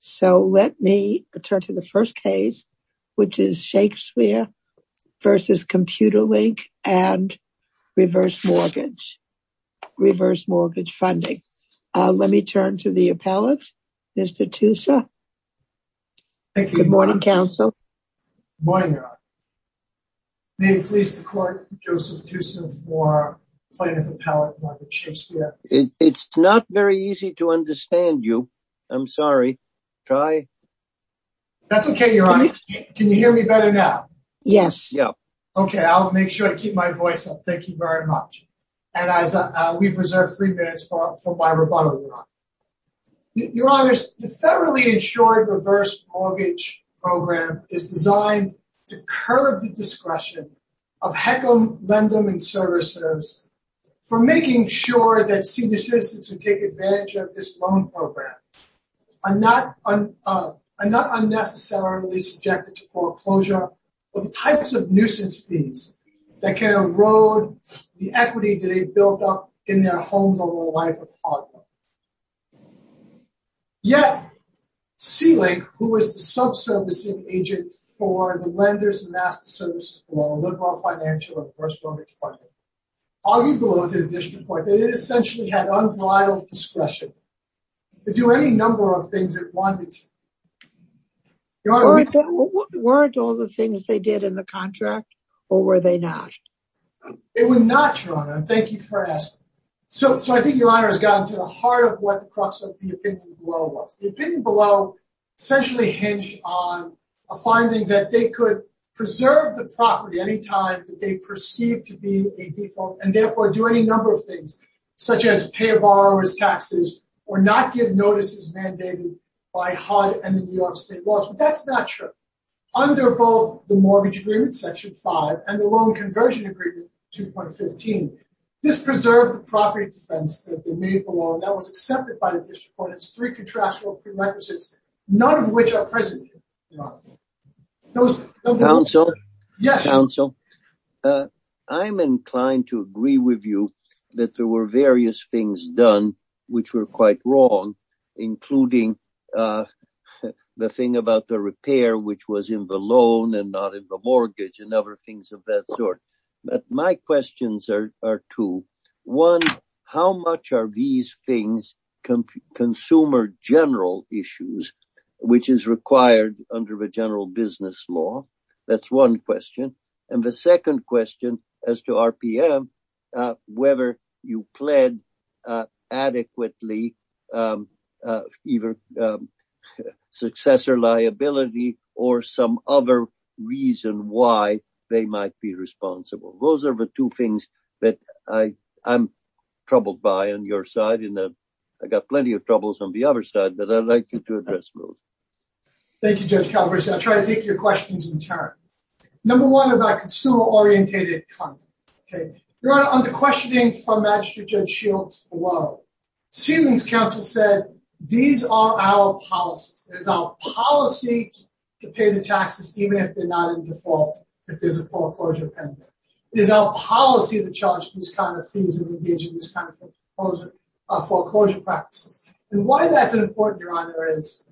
So let me turn to the first case, which is Shakespeare versus Compu-Link and Reverse Mortgage, Reverse Mortgage Funding. Let me turn to the appellate, Mr. Tussa. Good morning, counsel. Good morning, Your Honor. May it please the court, Joseph Tussa for plaintiff appellate, Margaret Shakespeare. It's not very easy to understand you. I'm sorry. Try. That's okay, Your Honor. Can you hear me better now? Yes. Okay, I'll make sure I keep my voice up. Thank you very much. And we've reserved three minutes for my rebuttal, Your Honor. Your Honor, the federally insured Reverse Mortgage Program is designed to curb the discretion of HECM, LENDM, and servicers for making sure that senior citizens who take advantage of this loan program are not unnecessarily subjected to foreclosure or the types of nuisance fees that can erode the equity they've built up in their homes over the life of a partner. Yet, Sea Lake, who is the sub-servicing agent for the lenders and master servicers for Liberal Financial and Reverse Mortgage Funding, argued below the district court that it essentially had unbridled discretion to do any number of things it wanted to. Weren't all the things they did in the contract, or were they not? They were not, Your Honor, and thank you for asking. So I think, Your Honor, it's gotten to the heart of what the crux of the opinion below was. The opinion below essentially hinged on a finding that they could preserve the property any time that they perceived to be a default and therefore do any number of things, such as pay a borrower's taxes or not give notices mandated by HUD and the New York state laws. But that's not true. Under both the Mortgage Agreement, Section 5, and the Loan Conversion Agreement, 2.15, this preserved the property defense that they made below, and that was accepted by the district court. It's three contractual prerequisites, none of which are present, Your Honor. Counsel? Yes. Counsel, I'm inclined to agree with you that there were various things done which were quite wrong, including the thing about the repair which was in the loan and not in the mortgage and other things of that sort. But my questions are two. Those are the two things that I'm troubled by on your side, and I've got plenty of troubles on the other side, but I'd like you to address both. Thank you, Judge Calabresi. I'll try to take your questions in turn. Number one about consumer-orientated conduct. Your Honor, on the questioning from Magistrate Judge Shields below, Seeling's counsel said, These are our policies. It is our policy to pay the taxes even if they're not in default, if there's a foreclosure pending. It is our policy to charge these kind of fees and engage in these kind of foreclosure practices. And why that's important, Your Honor, is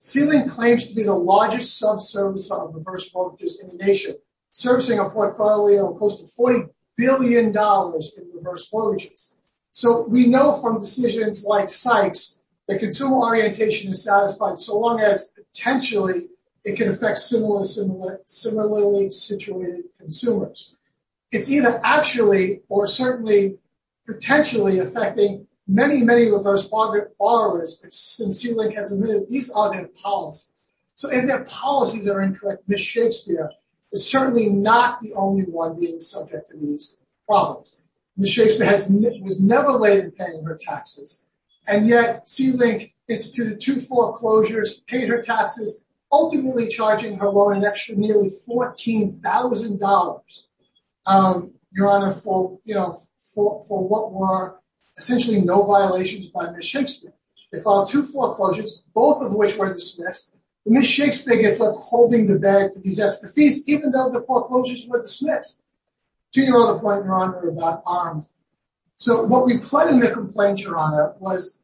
Seeling claims to be the largest subservice of reverse mortgages in the nation, servicing a portfolio of close to $40 billion in reverse mortgages. So we know from decisions like Sykes that consumer orientation is satisfied so long as potentially it can affect similarly situated consumers. It's either actually or certainly potentially affecting many, many reverse borrowers, and Seeling has admitted these are their policies. So if their policies are incorrect, Ms. Shakespeare is certainly not the only one being subject to these problems. Ms. Shakespeare was never late in paying her taxes, and yet Seeling instituted two foreclosures, paid her taxes, ultimately charging her loan an extra nearly $14,000, Your Honor, for what were essentially no violations by Ms. Shakespeare. They filed two foreclosures, both of which were dismissed. Ms. Shakespeare gets left holding the bag for these extra fees even though the foreclosures were dismissed. To your other point, Your Honor, about arms. So what we plead in the complaint, Your Honor, was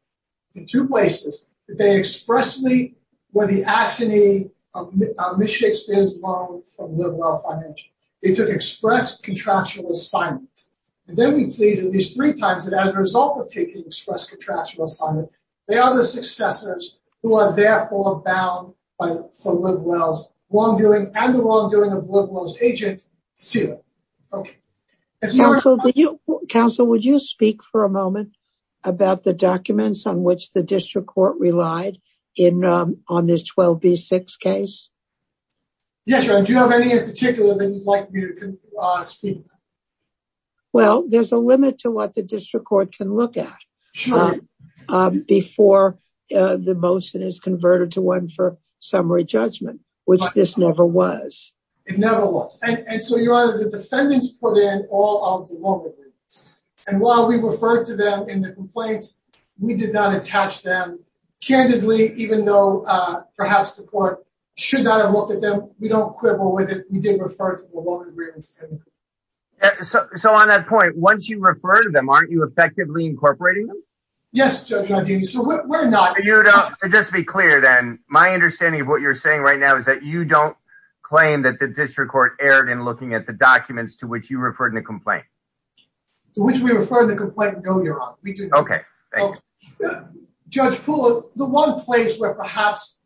in two places that they expressly were the assignee of Ms. Shakespeare's loan from LiveWell Financial. They took express contractual assignment. And then we plead at least three times that as a result of taking express contractual assignment, they are the successors who are therefore bound for LiveWell's wrongdoing and the wrongdoing of LiveWell's agent, Seeling. Counsel, would you speak for a moment about the documents on which the district court relied on this 12B6 case? Yes, Your Honor. Do you have any in particular that you'd like me to speak about? Well, there's a limit to what the district court can look at before the motion is converted to one for summary judgment, which this never was. It never was. And so, Your Honor, the defendants put in all of the loan agreements. And while we referred to them in the complaints, we did not attach them candidly, even though perhaps the court should not have looked at them. We don't quibble with it. We did refer to the loan agreements. So on that point, once you refer to them, aren't you effectively incorporating them? Yes, Judge Nadine. So we're not. Just to be clear then, my understanding of what you're saying right now is that you don't claim that the district court erred in looking at the documents to which you referred in the complaint. To which we refer in the complaint, no, Your Honor. We do not. Okay. Thank you. Judge Poole, the one place where perhaps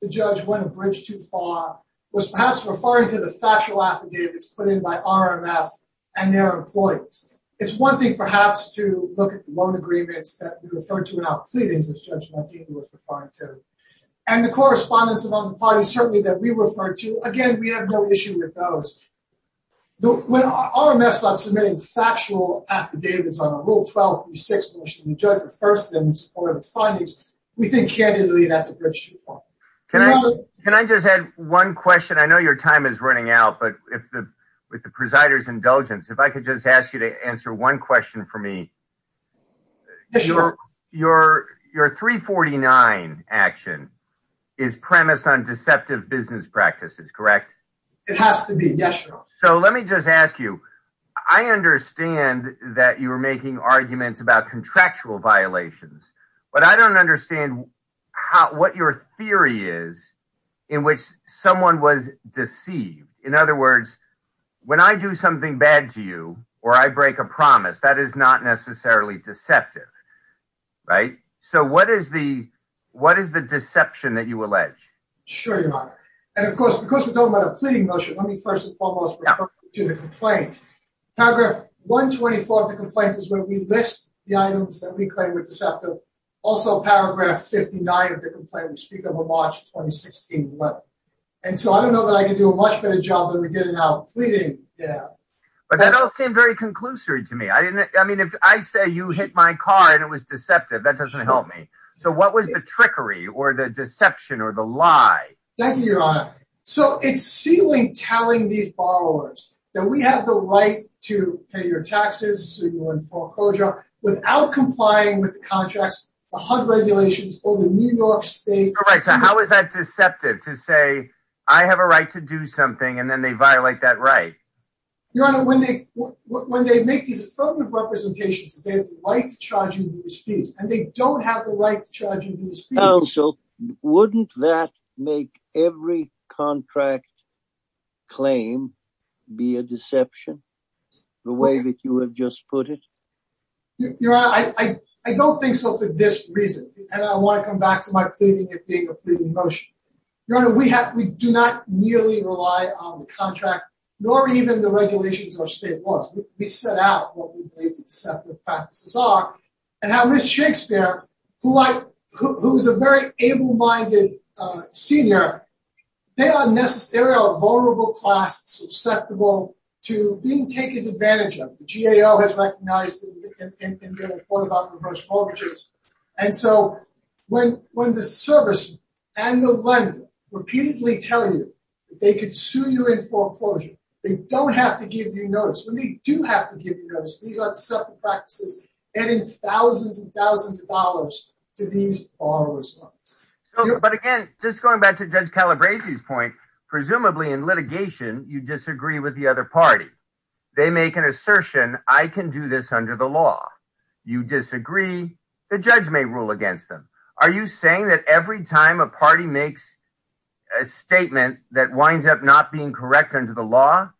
the judge went a bridge too far was perhaps referring to the factual affidavits put in by RMF and their employees. It's one thing perhaps to look at the loan agreements that we referred to in our pleadings, as Judge Nadine was referring to. And the correspondence among the parties, certainly, that we referred to, again, we have no issue with those. When RMF's not submitting factual affidavits on Rule 12.36, in which the judge refers to them in support of its findings, we think, candidly, that's a bridge too far. Can I just add one question? I know your time is running out, but with the presider's indulgence, if I could just ask you to answer one question for me. Yes, Your Honor. Your 349 action is premised on deceptive business practices, correct? It has to be, yes, Your Honor. So let me just ask you, I understand that you were making arguments about contractual violations, but I don't understand what your theory is in which someone was deceived. In other words, when I do something bad to you or I break a promise, that is not necessarily deceptive, right? So what is the deception that you allege? Sure, Your Honor. And, of course, because we're talking about a pleading motion, let me first and foremost refer to the complaint. Paragraph 124 of the complaint is where we list the items that we claim were deceptive. Also, paragraph 59 of the complaint, we speak of a March 2016 letter. And so I don't know that I can do a much better job than we did in our pleading. But that all seemed very conclusory to me. I mean, if I say you hit my car and it was deceptive, that doesn't help me. So what was the trickery or the deception or the lie? Thank you, Your Honor. So it's Sealing telling these borrowers that we have the right to pay your taxes, so you're in full closure, without complying with the contracts, the HUD regulations, or the New York State… Right, so how is that deceptive to say, I have a right to do something, and then they violate that right? Your Honor, when they make these affirmative representations, they have the right to charge you these fees, and they don't have the right to charge you these fees. Oh, so wouldn't that make every contract claim be a deception, the way that you have just put it? Your Honor, I don't think so for this reason. And I want to come back to my pleading it being a pleading motion. Your Honor, we do not merely rely on the contract, nor even the regulations or state laws. We set out what we believe the deceptive practices are, and how Ms. Shakespeare, who is a very able-minded senior, they are a vulnerable class susceptible to being taken advantage of. The GAO has recognized it in their report about reverse mortgages. And so when the service and the lender repeatedly tell you they could sue you in foreclosure, they don't have to give you notice. When they do have to give you notice, these are deceptive practices adding thousands and thousands of dollars to these borrower's loans. But again, just going back to Judge Calabresi's point, presumably in litigation, you disagree with the other party. They make an assertion, I can do this under the law. You disagree, the judge may rule against them. Are you saying that every time a party makes a statement that winds up not being correct under the law,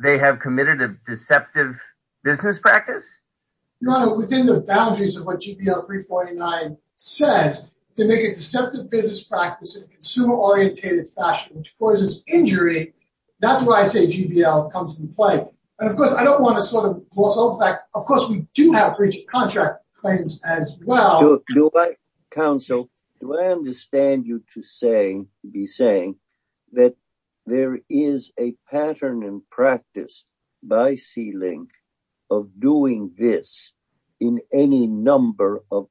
they have committed a deceptive business practice? Your Honor, within the boundaries of what GBL 349 says, they make a deceptive business practice in a consumer-orientated fashion, which causes injury. That's why I say GBL comes into play. And of course, I don't want to sort of gloss over the fact, of course, we do have breach of contract claims as well. Counsel, do I understand you to be saying that there is a pattern in practice by C-Link of doing this in any number of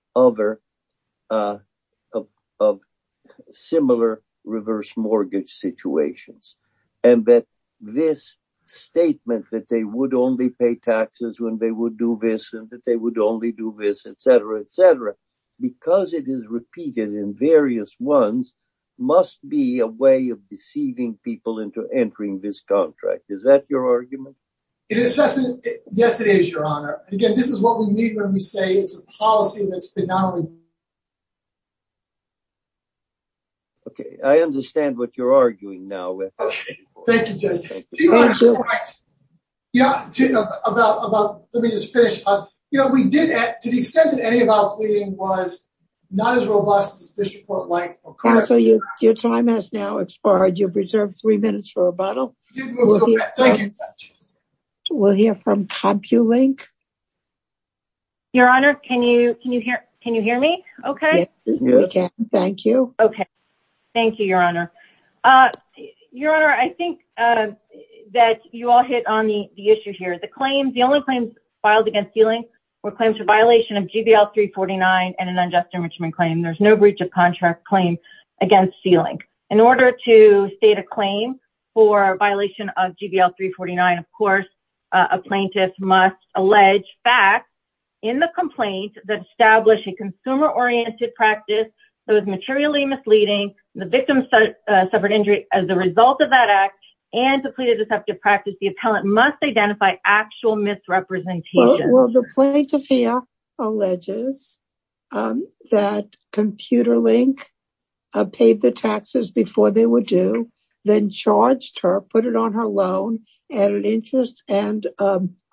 similar reverse mortgage situations? And that this statement that they would only pay taxes when they would do this and that they would only do this, et cetera, et cetera, because it is repeated in various ones, must be a way of deceiving people into entering this contract. Is that your argument? Yes, it is, Your Honor. Again, this is what we need when we say it's a policy that's been not only... Okay, I understand what you're arguing now with. Thank you, Judge. Let me just finish. You know, we did, to the extent that any of our pleading was not as robust as this report like... Counsel, your time has now expired. You've reserved three minutes for rebuttal. We'll hear from CompuLink. Your Honor, can you hear me okay? Yes, we can. Thank you. Okay. Thank you, Your Honor. Your Honor, I think that you all hit on the issue here. The claims, the only claims filed against C-Link were claims for violation of GVL 349 and an unjust enrichment claim. There's no breach of contract claim against C-Link. In order to state a claim for violation of GVL 349, of course, a plaintiff must allege facts in the complaint that establish a consumer-oriented practice that was materially misleading, the victim suffered injury as a result of that act, and to plead a deceptive practice. The appellant must identify actual misrepresentations. Well, the plaintiff here alleges that CompuLink paid the taxes before they were due, then charged her, put it on her loan, added interest and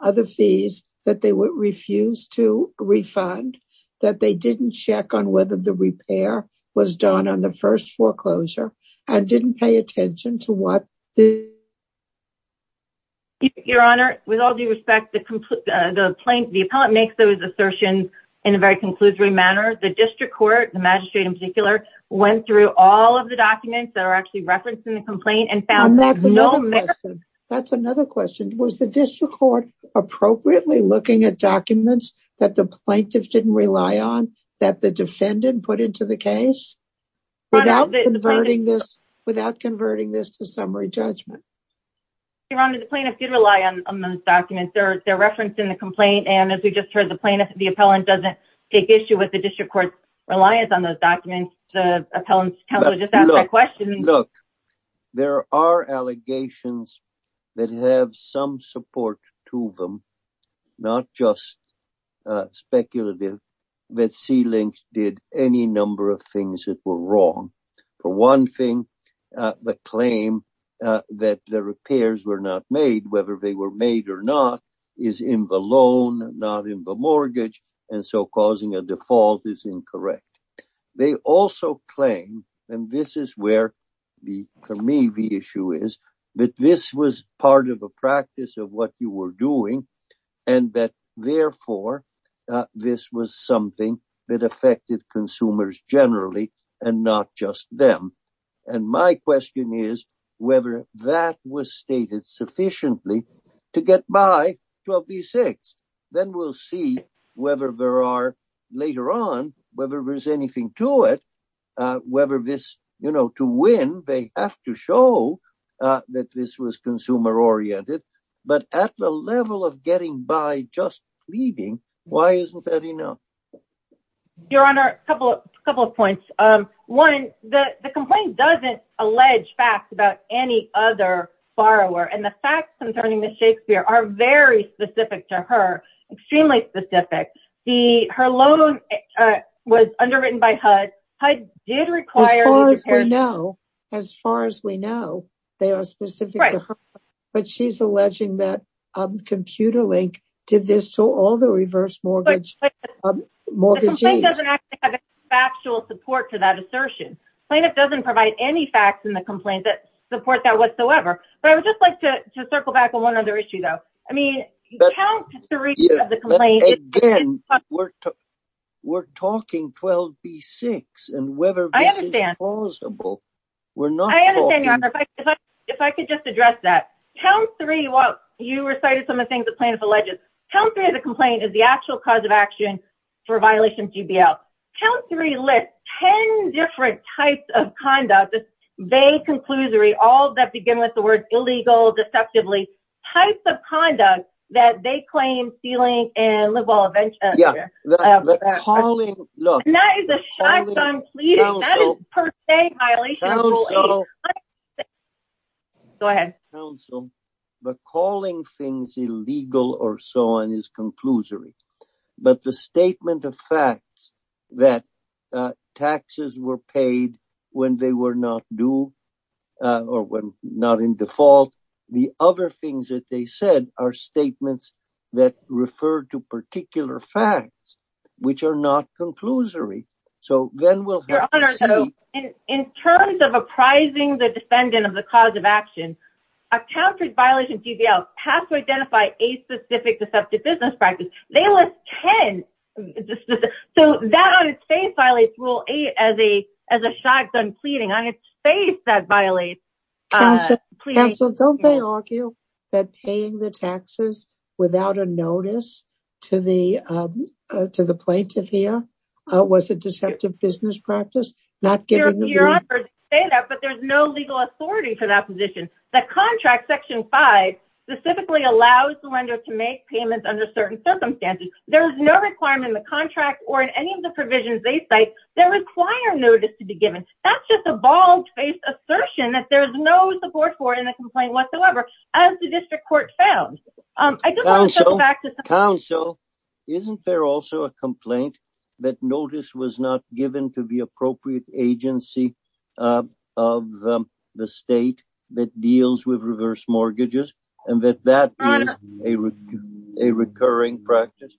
other fees that they refused to refund, that they didn't check on whether the repair was done on the first foreclosure, and didn't pay attention to what... Your Honor, with all due respect, the plaintiff, the appellant, makes those assertions in a very conclusory manner. The district court, the magistrate in particular, went through all of the documents that are actually referenced in the complaint and found... And that's another question. That's another question. Was the district court appropriately looking at documents that the plaintiffs didn't rely on, that the defendant put into the case, without converting this to summary judgment? Your Honor, the plaintiffs did rely on those documents. They're referenced in the complaint, and as we just heard, the plaintiff, the appellant, doesn't take issue with the district court's reliance on those documents. The appellant's counsel just asked that question. Look, there are allegations that have some support to them, not just speculative, that C-Link did any number of things that were wrong. For one thing, the claim that the repairs were not made, whether they were made or not, is in the loan, not in the mortgage, and so causing a default is incorrect. They also claim, and this is where, for me, the issue is, that this was part of a practice of what you were doing, and that, therefore, this was something that affected consumers generally, and not just them. And my question is whether that was stated sufficiently to get by 12b-6. Then we'll see whether there are, later on, whether there's anything to it, whether this, you know, to win, they have to show that this was consumer-oriented. But at the level of getting by just pleading, why isn't that enough? Your Honor, a couple of points. One, the complaint doesn't allege facts about any other borrower, and the facts concerning Ms. Shakespeare are very specific to her, extremely specific. Her loan was underwritten by HUD. HUD did require— As far as we know, as far as we know, they are specific to her. Right. But she's alleging that ComputerLink did this to all the reverse mortgagees. She doesn't actually have any factual support to that assertion. Plaintiff doesn't provide any facts in the complaint that support that whatsoever. But I would just like to circle back on one other issue, though. I mean, count three of the complaints— Again, we're talking 12b-6, and whether this is plausible, we're not talking— I understand, Your Honor. If I could just address that. You recited some of the things the plaintiff alleges. Count three of the complaint is the actual cause of action for a violation of GBL. Count three lists 10 different types of conduct—this vague conclusory, all that begin with the words illegal, deceptively—types of conduct that they claim ceiling and live well— Yeah, the calling— And that is a shotgun plea. That is, per se, violation of GBL. Go ahead. The calling things illegal or so on is conclusory. But the statement of facts that taxes were paid when they were not due or when not in default, the other things that they said are statements that refer to particular facts, which are not conclusory. So then we'll have to see— Count three violations of GBL have to identify a specific deceptive business practice. They list 10. So that on its face violates Rule 8 as a shotgun pleading. On its face, that violates— Counsel, don't they argue that paying the taxes without a notice to the plaintiff here was a deceptive business practice, not giving the— But there's no legal authority for that position. The contract, Section 5, specifically allows the lender to make payments under certain circumstances. There is no requirement in the contract or in any of the provisions they cite that require notice to be given. That's just a bald-faced assertion that there's no support for it in the complaint whatsoever, as the district court found. Counsel, isn't there also a complaint that notice was not given to the appropriate agency of the state that deals with reverse mortgages and that that is a recurring practice?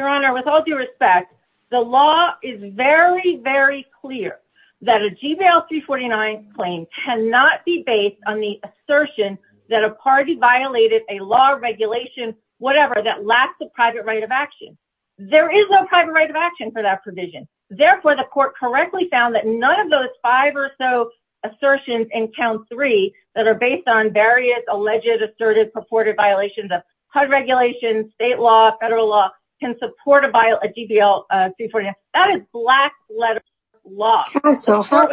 Your Honor, with all due respect, the law is very, very clear that a GBL 349 claim cannot be based on the assertion that a party violated a law or regulation, whatever, that lacks a private right of action. There is no private right of action for that provision. Therefore, the court correctly found that none of those five or so assertions in Count 3 that are based on various alleged, assertive, purported violations of HUD regulations, state law, federal law, can support a GBL 349. That is black-letter law. Counsel, how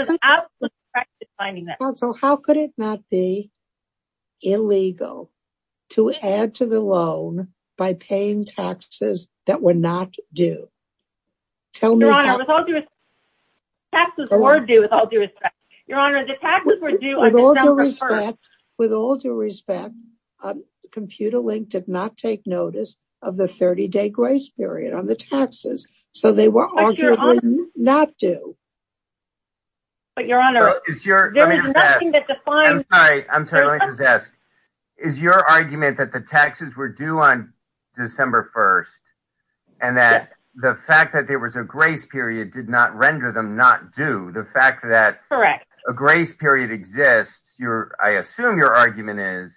could it not be illegal to add to the loan by paying taxes that were not due? Your Honor, taxes were due with all due respect. Your Honor, the taxes were due on December 1st. With all due respect, ComputerLink did not take notice of the 30-day grace period on the taxes, so they were arguably not due. Your Honor, there is nothing that defines... I'm sorry. Let me just ask. Is your argument that the taxes were due on December 1st and that the fact that there was a grace period did not render them not due? The fact that a grace period exists, I assume your argument is,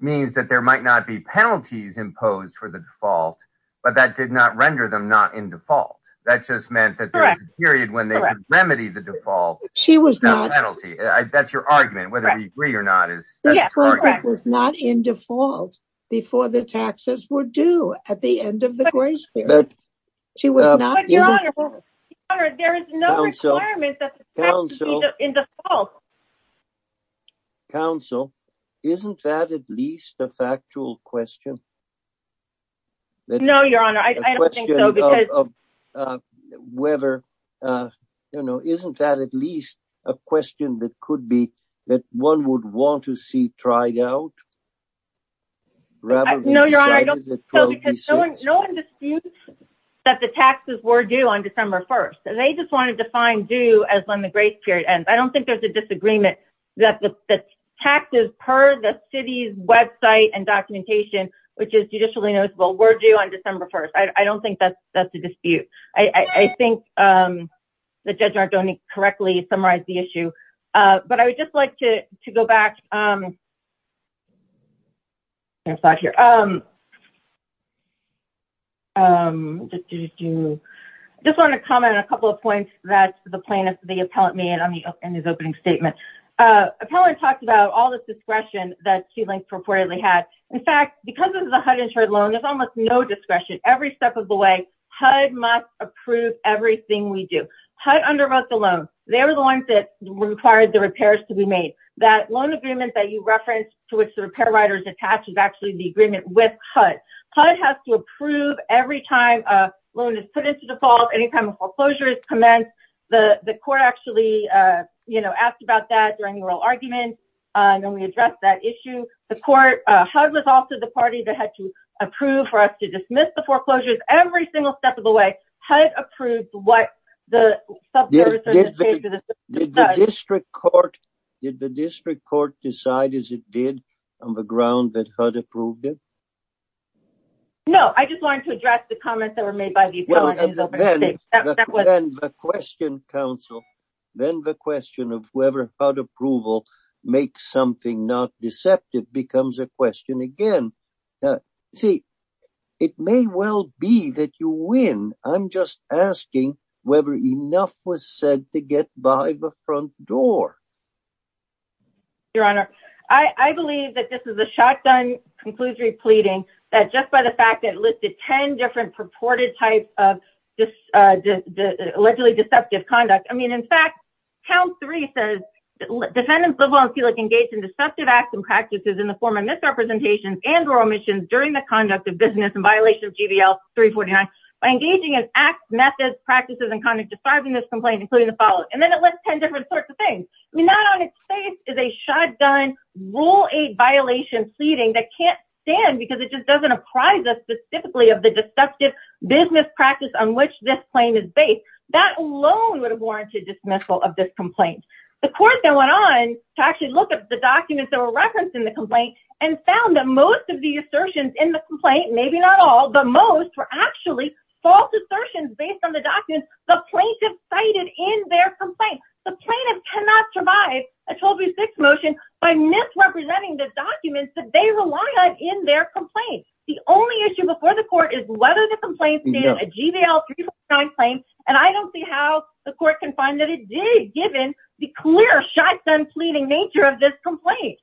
means that there might not be penalties imposed for the default, but that did not render them not in default. That just meant that there was a period when they could remedy the default without penalty. That's your argument, whether we agree or not. Yes, correct. Because it was not in default before the taxes were due at the end of the grace period. Your Honor, there is no requirement that the tax be in default. Counsel, isn't that at least a factual question? No, Your Honor, I don't think so. Isn't that at least a question that one would want to see tried out? No, Your Honor, I don't think so, because no one disputes that the taxes were due on December 1st. They just want to define due as when the grace period ends. I don't think there's a disagreement that the taxes per the city's website and documentation, which is judicially noticeable, were due on December 1st. I don't think that's a dispute. I think the judge correctly summarized the issue. But I would just like to go back. I just want to comment on a couple of points that the plaintiff, the appellant, made in his opening statement. Appellant talked about all this discretion that Q-Link purportedly had. In fact, because this is a HUD-insured loan, there's almost no discretion. Every step of the way, HUD must approve everything we do. HUD underwrote the loan. They were the ones that required the repairs to be made. That loan agreement that you referenced to which the repair writer is attached is actually the agreement with HUD. HUD has to approve every time a loan is put into default, any time a foreclosure is commenced. The court actually, you know, asked about that during the oral argument. And then we addressed that issue. HUD was also the party that had to approve for us to dismiss the foreclosures. Every single step of the way, HUD approved what the subservicers did. Did the district court decide as it did on the ground that HUD approved it? No. I just wanted to address the comments that were made by the appellant in his opening statement. Then the question, counsel, then the question of whether HUD approval makes something not deceptive becomes a question again. See, it may well be that you win. I'm just asking whether enough was said to get by the front door. Your Honor, I believe that this is a shotgun conclusory pleading that just by the fact that it listed 10 different purported types of allegedly deceptive conduct. I mean, in fact, count three says defendants liable and feel like engaged in deceptive acts and practices in the form of misrepresentation and or omissions during the conduct of business in violation of GVL 349. By engaging in acts, methods, practices, and conduct describing this complaint, including the following. And then it lists 10 different sorts of things. I mean, that on its face is a shotgun rule eight violation pleading that can't stand because it just doesn't apprise us specifically of the deceptive business practice on which this claim is based. That alone would have warranted dismissal of this complaint. The court then went on to actually look at the documents that were referenced in the complaint and found that most of the assertions in the complaint, maybe not all, but most were actually false assertions based on the documents the plaintiff cited in their complaint. The plaintiff cannot survive a 1236 motion by misrepresenting the documents that they rely on in their complaint. The only issue before the court is whether the complaint is a GVL 349 claim. And I don't see how the court can find that it did given the clear shotgun pleading nature of this complaint.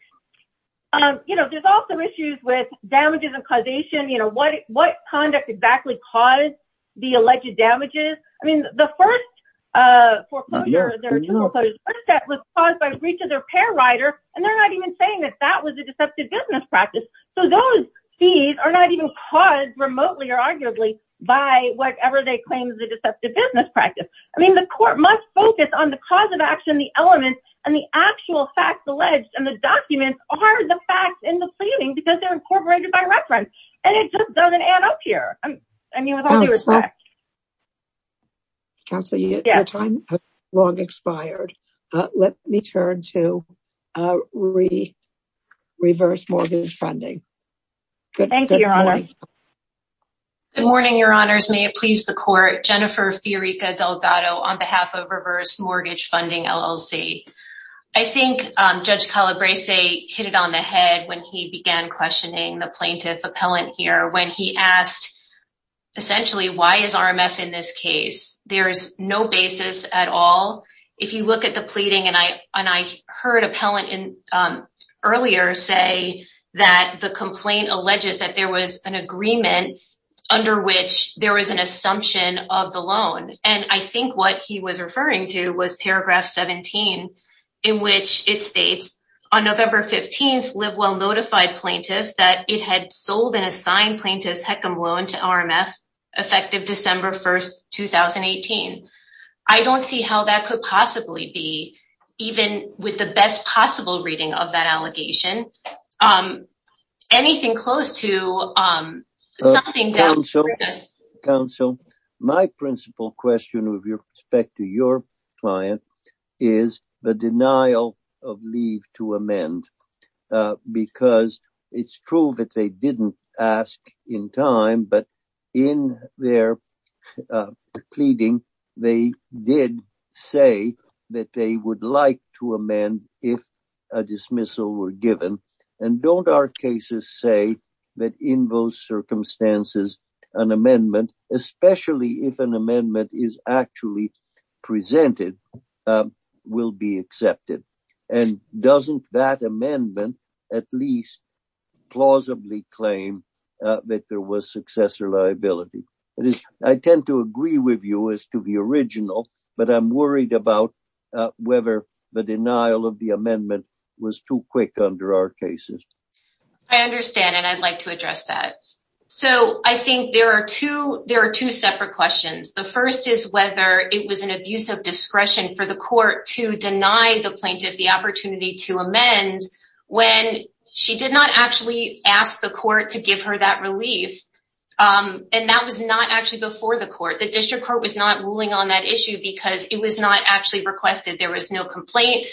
You know, there's also issues with damages and causation. You know what? What conduct exactly caused the alleged damages? I mean, the first foreclosure was caused by breach of their pair rider. And they're not even saying that that was a deceptive business practice. So those fees are not even caused remotely or arguably by whatever they claim is a deceptive business practice. I mean, the court must focus on the cause of action, the elements and the actual facts alleged and the documents are the facts in the pleading because they're incorporated by reference. And it just doesn't add up here. Counselor, your time has long expired. Let me turn to reverse mortgage funding. Thank you, Your Honor. Good morning, Your Honors. May it please the court. Jennifer Fiorica Delgado on behalf of reverse mortgage funding LLC. I think Judge Calabrese hit it on the head when he began questioning the plaintiff appellant here when he asked, essentially, why is RMF in this case? There is no basis at all. If you look at the pleading, and I heard appellant earlier say that the complaint alleges that there was an agreement under which there was an assumption of the loan. And I think what he was referring to was paragraph 17, in which it states on November 15th, Livewell notified plaintiffs that it had sold an assigned plaintiff's HECM loan to RMF effective December 1st, 2018. I don't see how that could possibly be even with the best possible reading of that allegation. Anything close to something down? Counsel, my principal question with respect to your client is the denial of leave to amend. Because it's true that they didn't ask in time, but in their pleading, they did say that they would like to amend if a dismissal were given. And don't our cases say that in those circumstances, an amendment, especially if an amendment is actually presented, will be accepted? And doesn't that amendment at least plausibly claim that there was successor liability? I tend to agree with you as to the original, but I'm worried about whether the denial of the amendment was too quick under our cases. I understand, and I'd like to address that. So I think there are two separate questions. The first is whether it was an abuse of discretion for the court to deny the plaintiff the opportunity to amend when she did not actually ask the court to give her that relief. And that was not actually before the court. The district court was not ruling on that issue because it was not actually requested. There was no complaint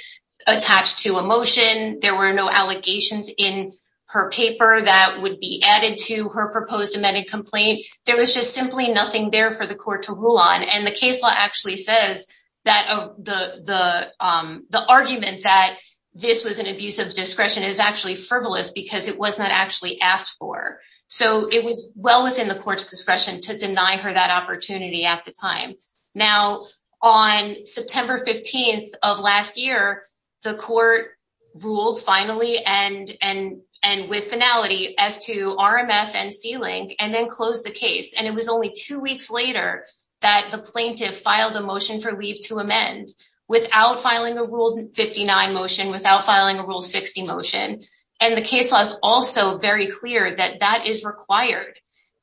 attached to a motion. There were no allegations in her paper that would be added to her proposed amended complaint. There was just simply nothing there for the court to rule on. And the case law actually says that the argument that this was an abuse of discretion is actually frivolous because it was not actually asked for. So it was well within the court's discretion to deny her that opportunity at the time. Now, on September 15th of last year, the court ruled finally and with finality as to RMF and C-Link and then closed the case. And it was only two weeks later that the plaintiff filed a motion for leave to amend without filing a Rule 59 motion, without filing a Rule 60 motion. And the case law is also very clear that that is required.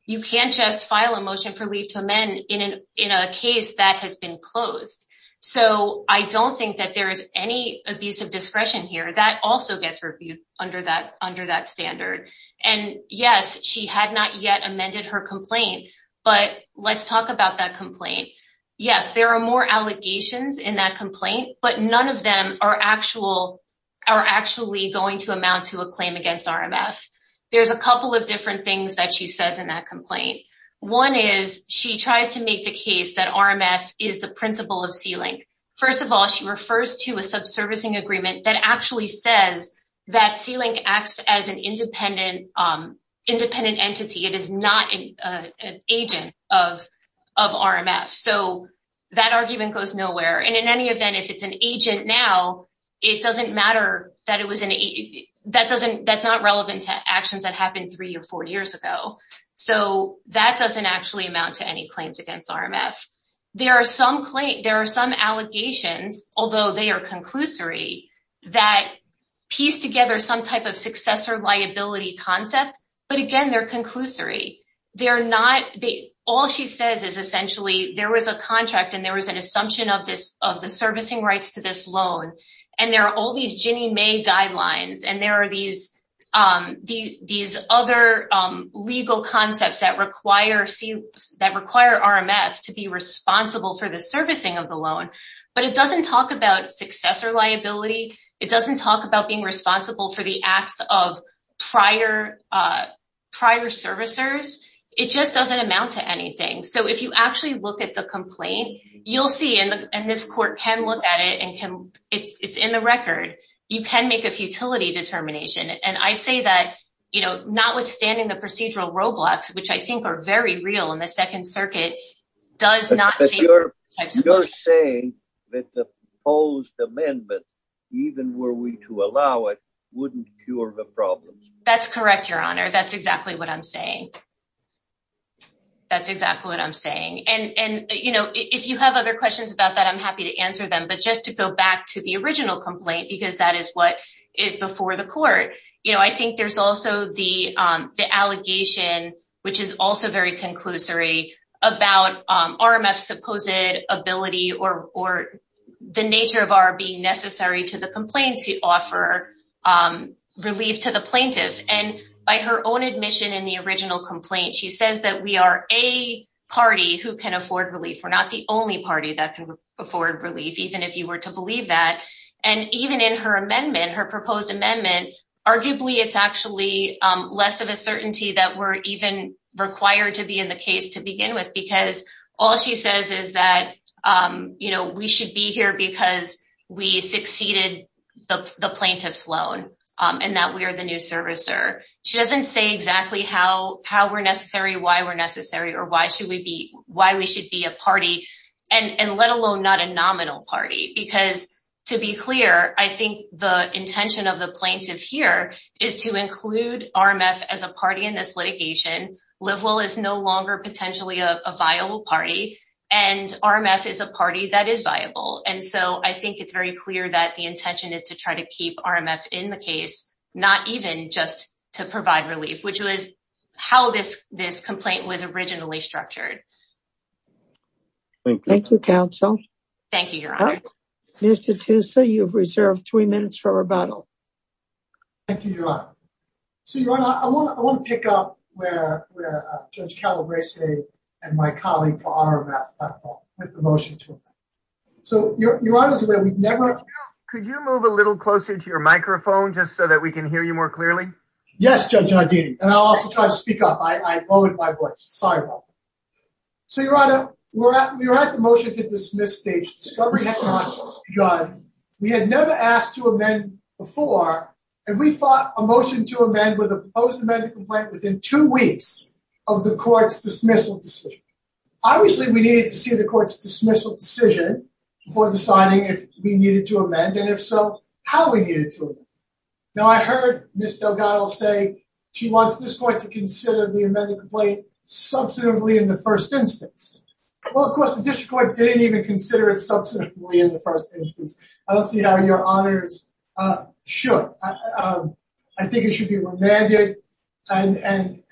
You can't just file a motion for leave to amend in a case that has been closed. So I don't think that there is any abuse of discretion here. That also gets reviewed under that standard. And, yes, she had not yet amended her complaint. But let's talk about that complaint. Yes, there are more allegations in that complaint, but none of them are actually going to amount to a claim against RMF. There's a couple of different things that she says in that complaint. One is she tries to make the case that RMF is the principal of C-Link. First of all, she refers to a subservicing agreement that actually says that C-Link acts as an independent entity. It is not an agent of RMF. So that argument goes nowhere. And in any event, if it's an agent now, it doesn't matter that it was an agent. That's not relevant to actions that happened three or four years ago. So that doesn't actually amount to any claims against RMF. There are some allegations, although they are conclusory, that piece together some type of successor liability concept. But, again, they're conclusory. All she says is essentially there was a contract and there was an assumption of the servicing rights to this loan. And there are all these Ginnie Mae guidelines. And there are these other legal concepts that require RMF to be responsible for the servicing of the loan. But it doesn't talk about successor liability. It doesn't talk about being responsible for the acts of prior servicers. It just doesn't amount to anything. So if you actually look at the complaint, you'll see, and this court can look at it and it's in the record, you can make a futility determination. And I'd say that, you know, notwithstanding the procedural roadblocks, which I think are very real in the Second Circuit, does not change the types of liability. You're saying that the proposed amendment, even were we to allow it, wouldn't cure the problem. That's correct, Your Honor. That's exactly what I'm saying. That's exactly what I'm saying. And, you know, if you have other questions about that, I'm happy to answer them. But just to go back to the original complaint, because that is what is before the court. You know, I think there's also the allegation, which is also very conclusory, about RMF's supposed ability or the nature of our being necessary to the complaint to offer relief to the plaintiff. And by her own admission in the original complaint, she says that we are a party who can afford relief. We're not the only party that can afford relief, even if you were to believe that. And even in her amendment, her proposed amendment, arguably it's actually less of a certainty that we're even required to be in the case to begin with. Because all she says is that, you know, we should be here because we succeeded the plaintiff's loan and that we are the new servicer. She doesn't say exactly how we're necessary, why we're necessary, or why we should be a party, and let alone not a nominal party. Because, to be clear, I think the intention of the plaintiff here is to include RMF as a party in this litigation. Livewell is no longer potentially a viable party, and RMF is a party that is viable. And so I think it's very clear that the intention is to try to keep RMF in the case, not even just to provide relief, which was how this complaint was originally structured. Thank you, counsel. Thank you, Your Honor. Mr. Tussa, you've reserved three minutes for rebuttal. Thank you, Your Honor. So, Your Honor, I want to pick up where Judge Calabresi and my colleague for RMF left off with the motion. So, Your Honor, we've never— Could you move a little closer to your microphone just so that we can hear you more clearly? Yes, Judge Haldini, and I'll also try to speak up. I have lowered my voice. Sorry about that. So, Your Honor, we're at the motion-to-dismiss stage. Discovery has not begun. We had never asked to amend before, and we fought a motion to amend with a proposed amended complaint within two weeks of the court's dismissal decision. Obviously, we needed to see the court's dismissal decision before deciding if we needed to amend, and if so, how we needed to amend. Now, I heard Ms. Delgado say she wants this court to consider the amended complaint substantively in the first instance. Well, of course, the district court didn't even consider it substantively in the first instance. I don't see how Your Honors should. I think it should be remanded. And,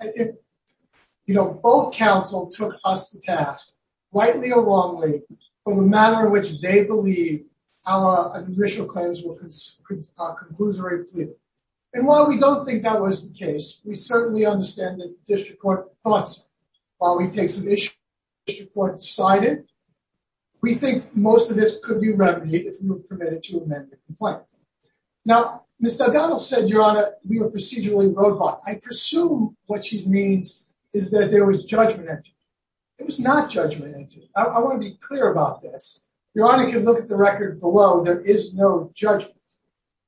you know, both counsel took us to task, rightly or wrongly, for the manner in which they believe our initial claims were a conclusory plea. And while we don't think that was the case, we certainly understand that the district court thought so. While we take some issues that the district court decided, we think most of this could be remedied if we were permitted to amend the complaint. Now, Ms. Delgado said, Your Honor, we were procedurally roadblocked. I presume what she means is that there was judgment. It was not judgment. I want to be clear about this. Your Honor can look at the record below. There is no judgment.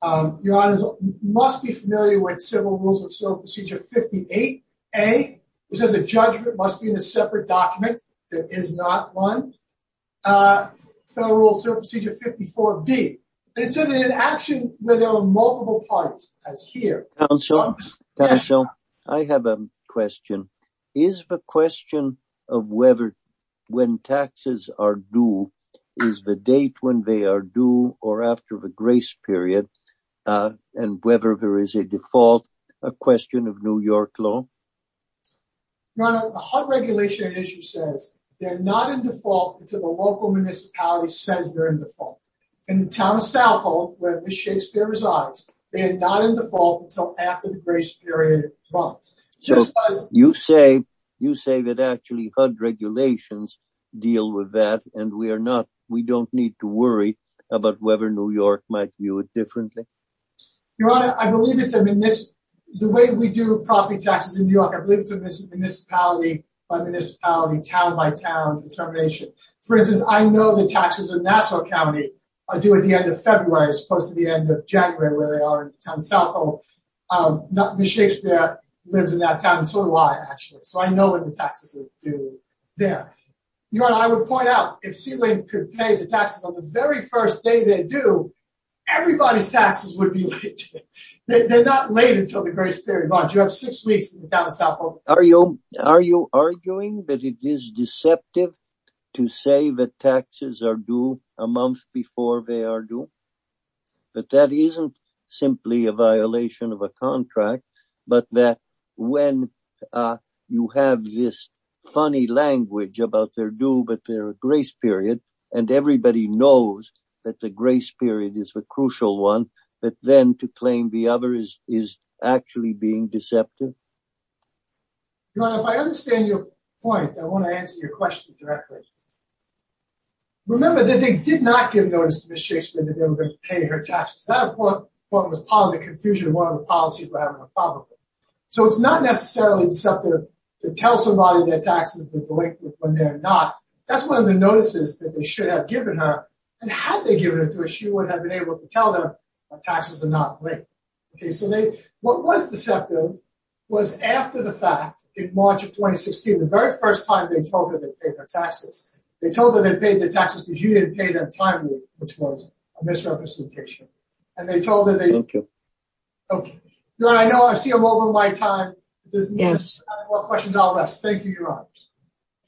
Your Honors must be familiar with Civil Rules of Procedure 58A. It says the judgment must be in a separate document. There is not one. Federal Rules of Procedure 54B. And it says it's an action where there are multiple parties. That's here. Counsel, I have a question. Is the question of whether when taxes are due, is the date when they are due or after the grace period, and whether there is a default a question of New York law? Your Honor, the HUD regulation says they're not in default until the local municipality says they're in default. In the town of South Hall, where Ms. Shakespeare resides, they are not in default until after the grace period runs. You say that actually HUD regulations deal with that, and we don't need to worry about whether New York might view it differently? Your Honor, I believe it's the way we do property taxes in New York. I believe it's a municipality-by-municipality, town-by-town determination. For instance, I know the taxes in Nassau County are due at the end of February, as opposed to the end of January, where they are in the town of South Hall. Ms. Shakespeare lives in that town, and so do I, actually. So I know when the taxes are due there. Your Honor, I would point out, if Sea Link could pay the taxes on the very first day they're due, everybody's taxes would be late. They're not late until the grace period runs. You have six weeks in the town of South Hall. Are you arguing that it is deceptive to say that taxes are due a month before they are due? That that isn't simply a violation of a contract, but that when you have this funny language about they're due but they're a grace period, and everybody knows that the grace period is the crucial one, that then to claim the other is actually being deceptive? Your Honor, if I understand your point, I want to answer your question directly. Remember that they did not give notice to Ms. Shakespeare that they were going to pay her taxes. That was part of the confusion and part of the policy for having a problem with it. So it's not necessarily deceptive to tell somebody that taxes are due when they're not. That's one of the notices that they should have given her, and had they given it to her, she would have been able to tell them that taxes are not due. What was deceptive was after the fact, in March of 2016, the very first time they told her they paid their taxes, they told her they paid their taxes because you didn't pay them timely, which was a misrepresentation. Thank you. Your Honor, I know I see I'm over my time. If there's no more questions, I'll rest. Thank you, Your Honor.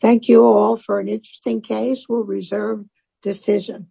Thank you all for an interesting case. We'll reserve decision.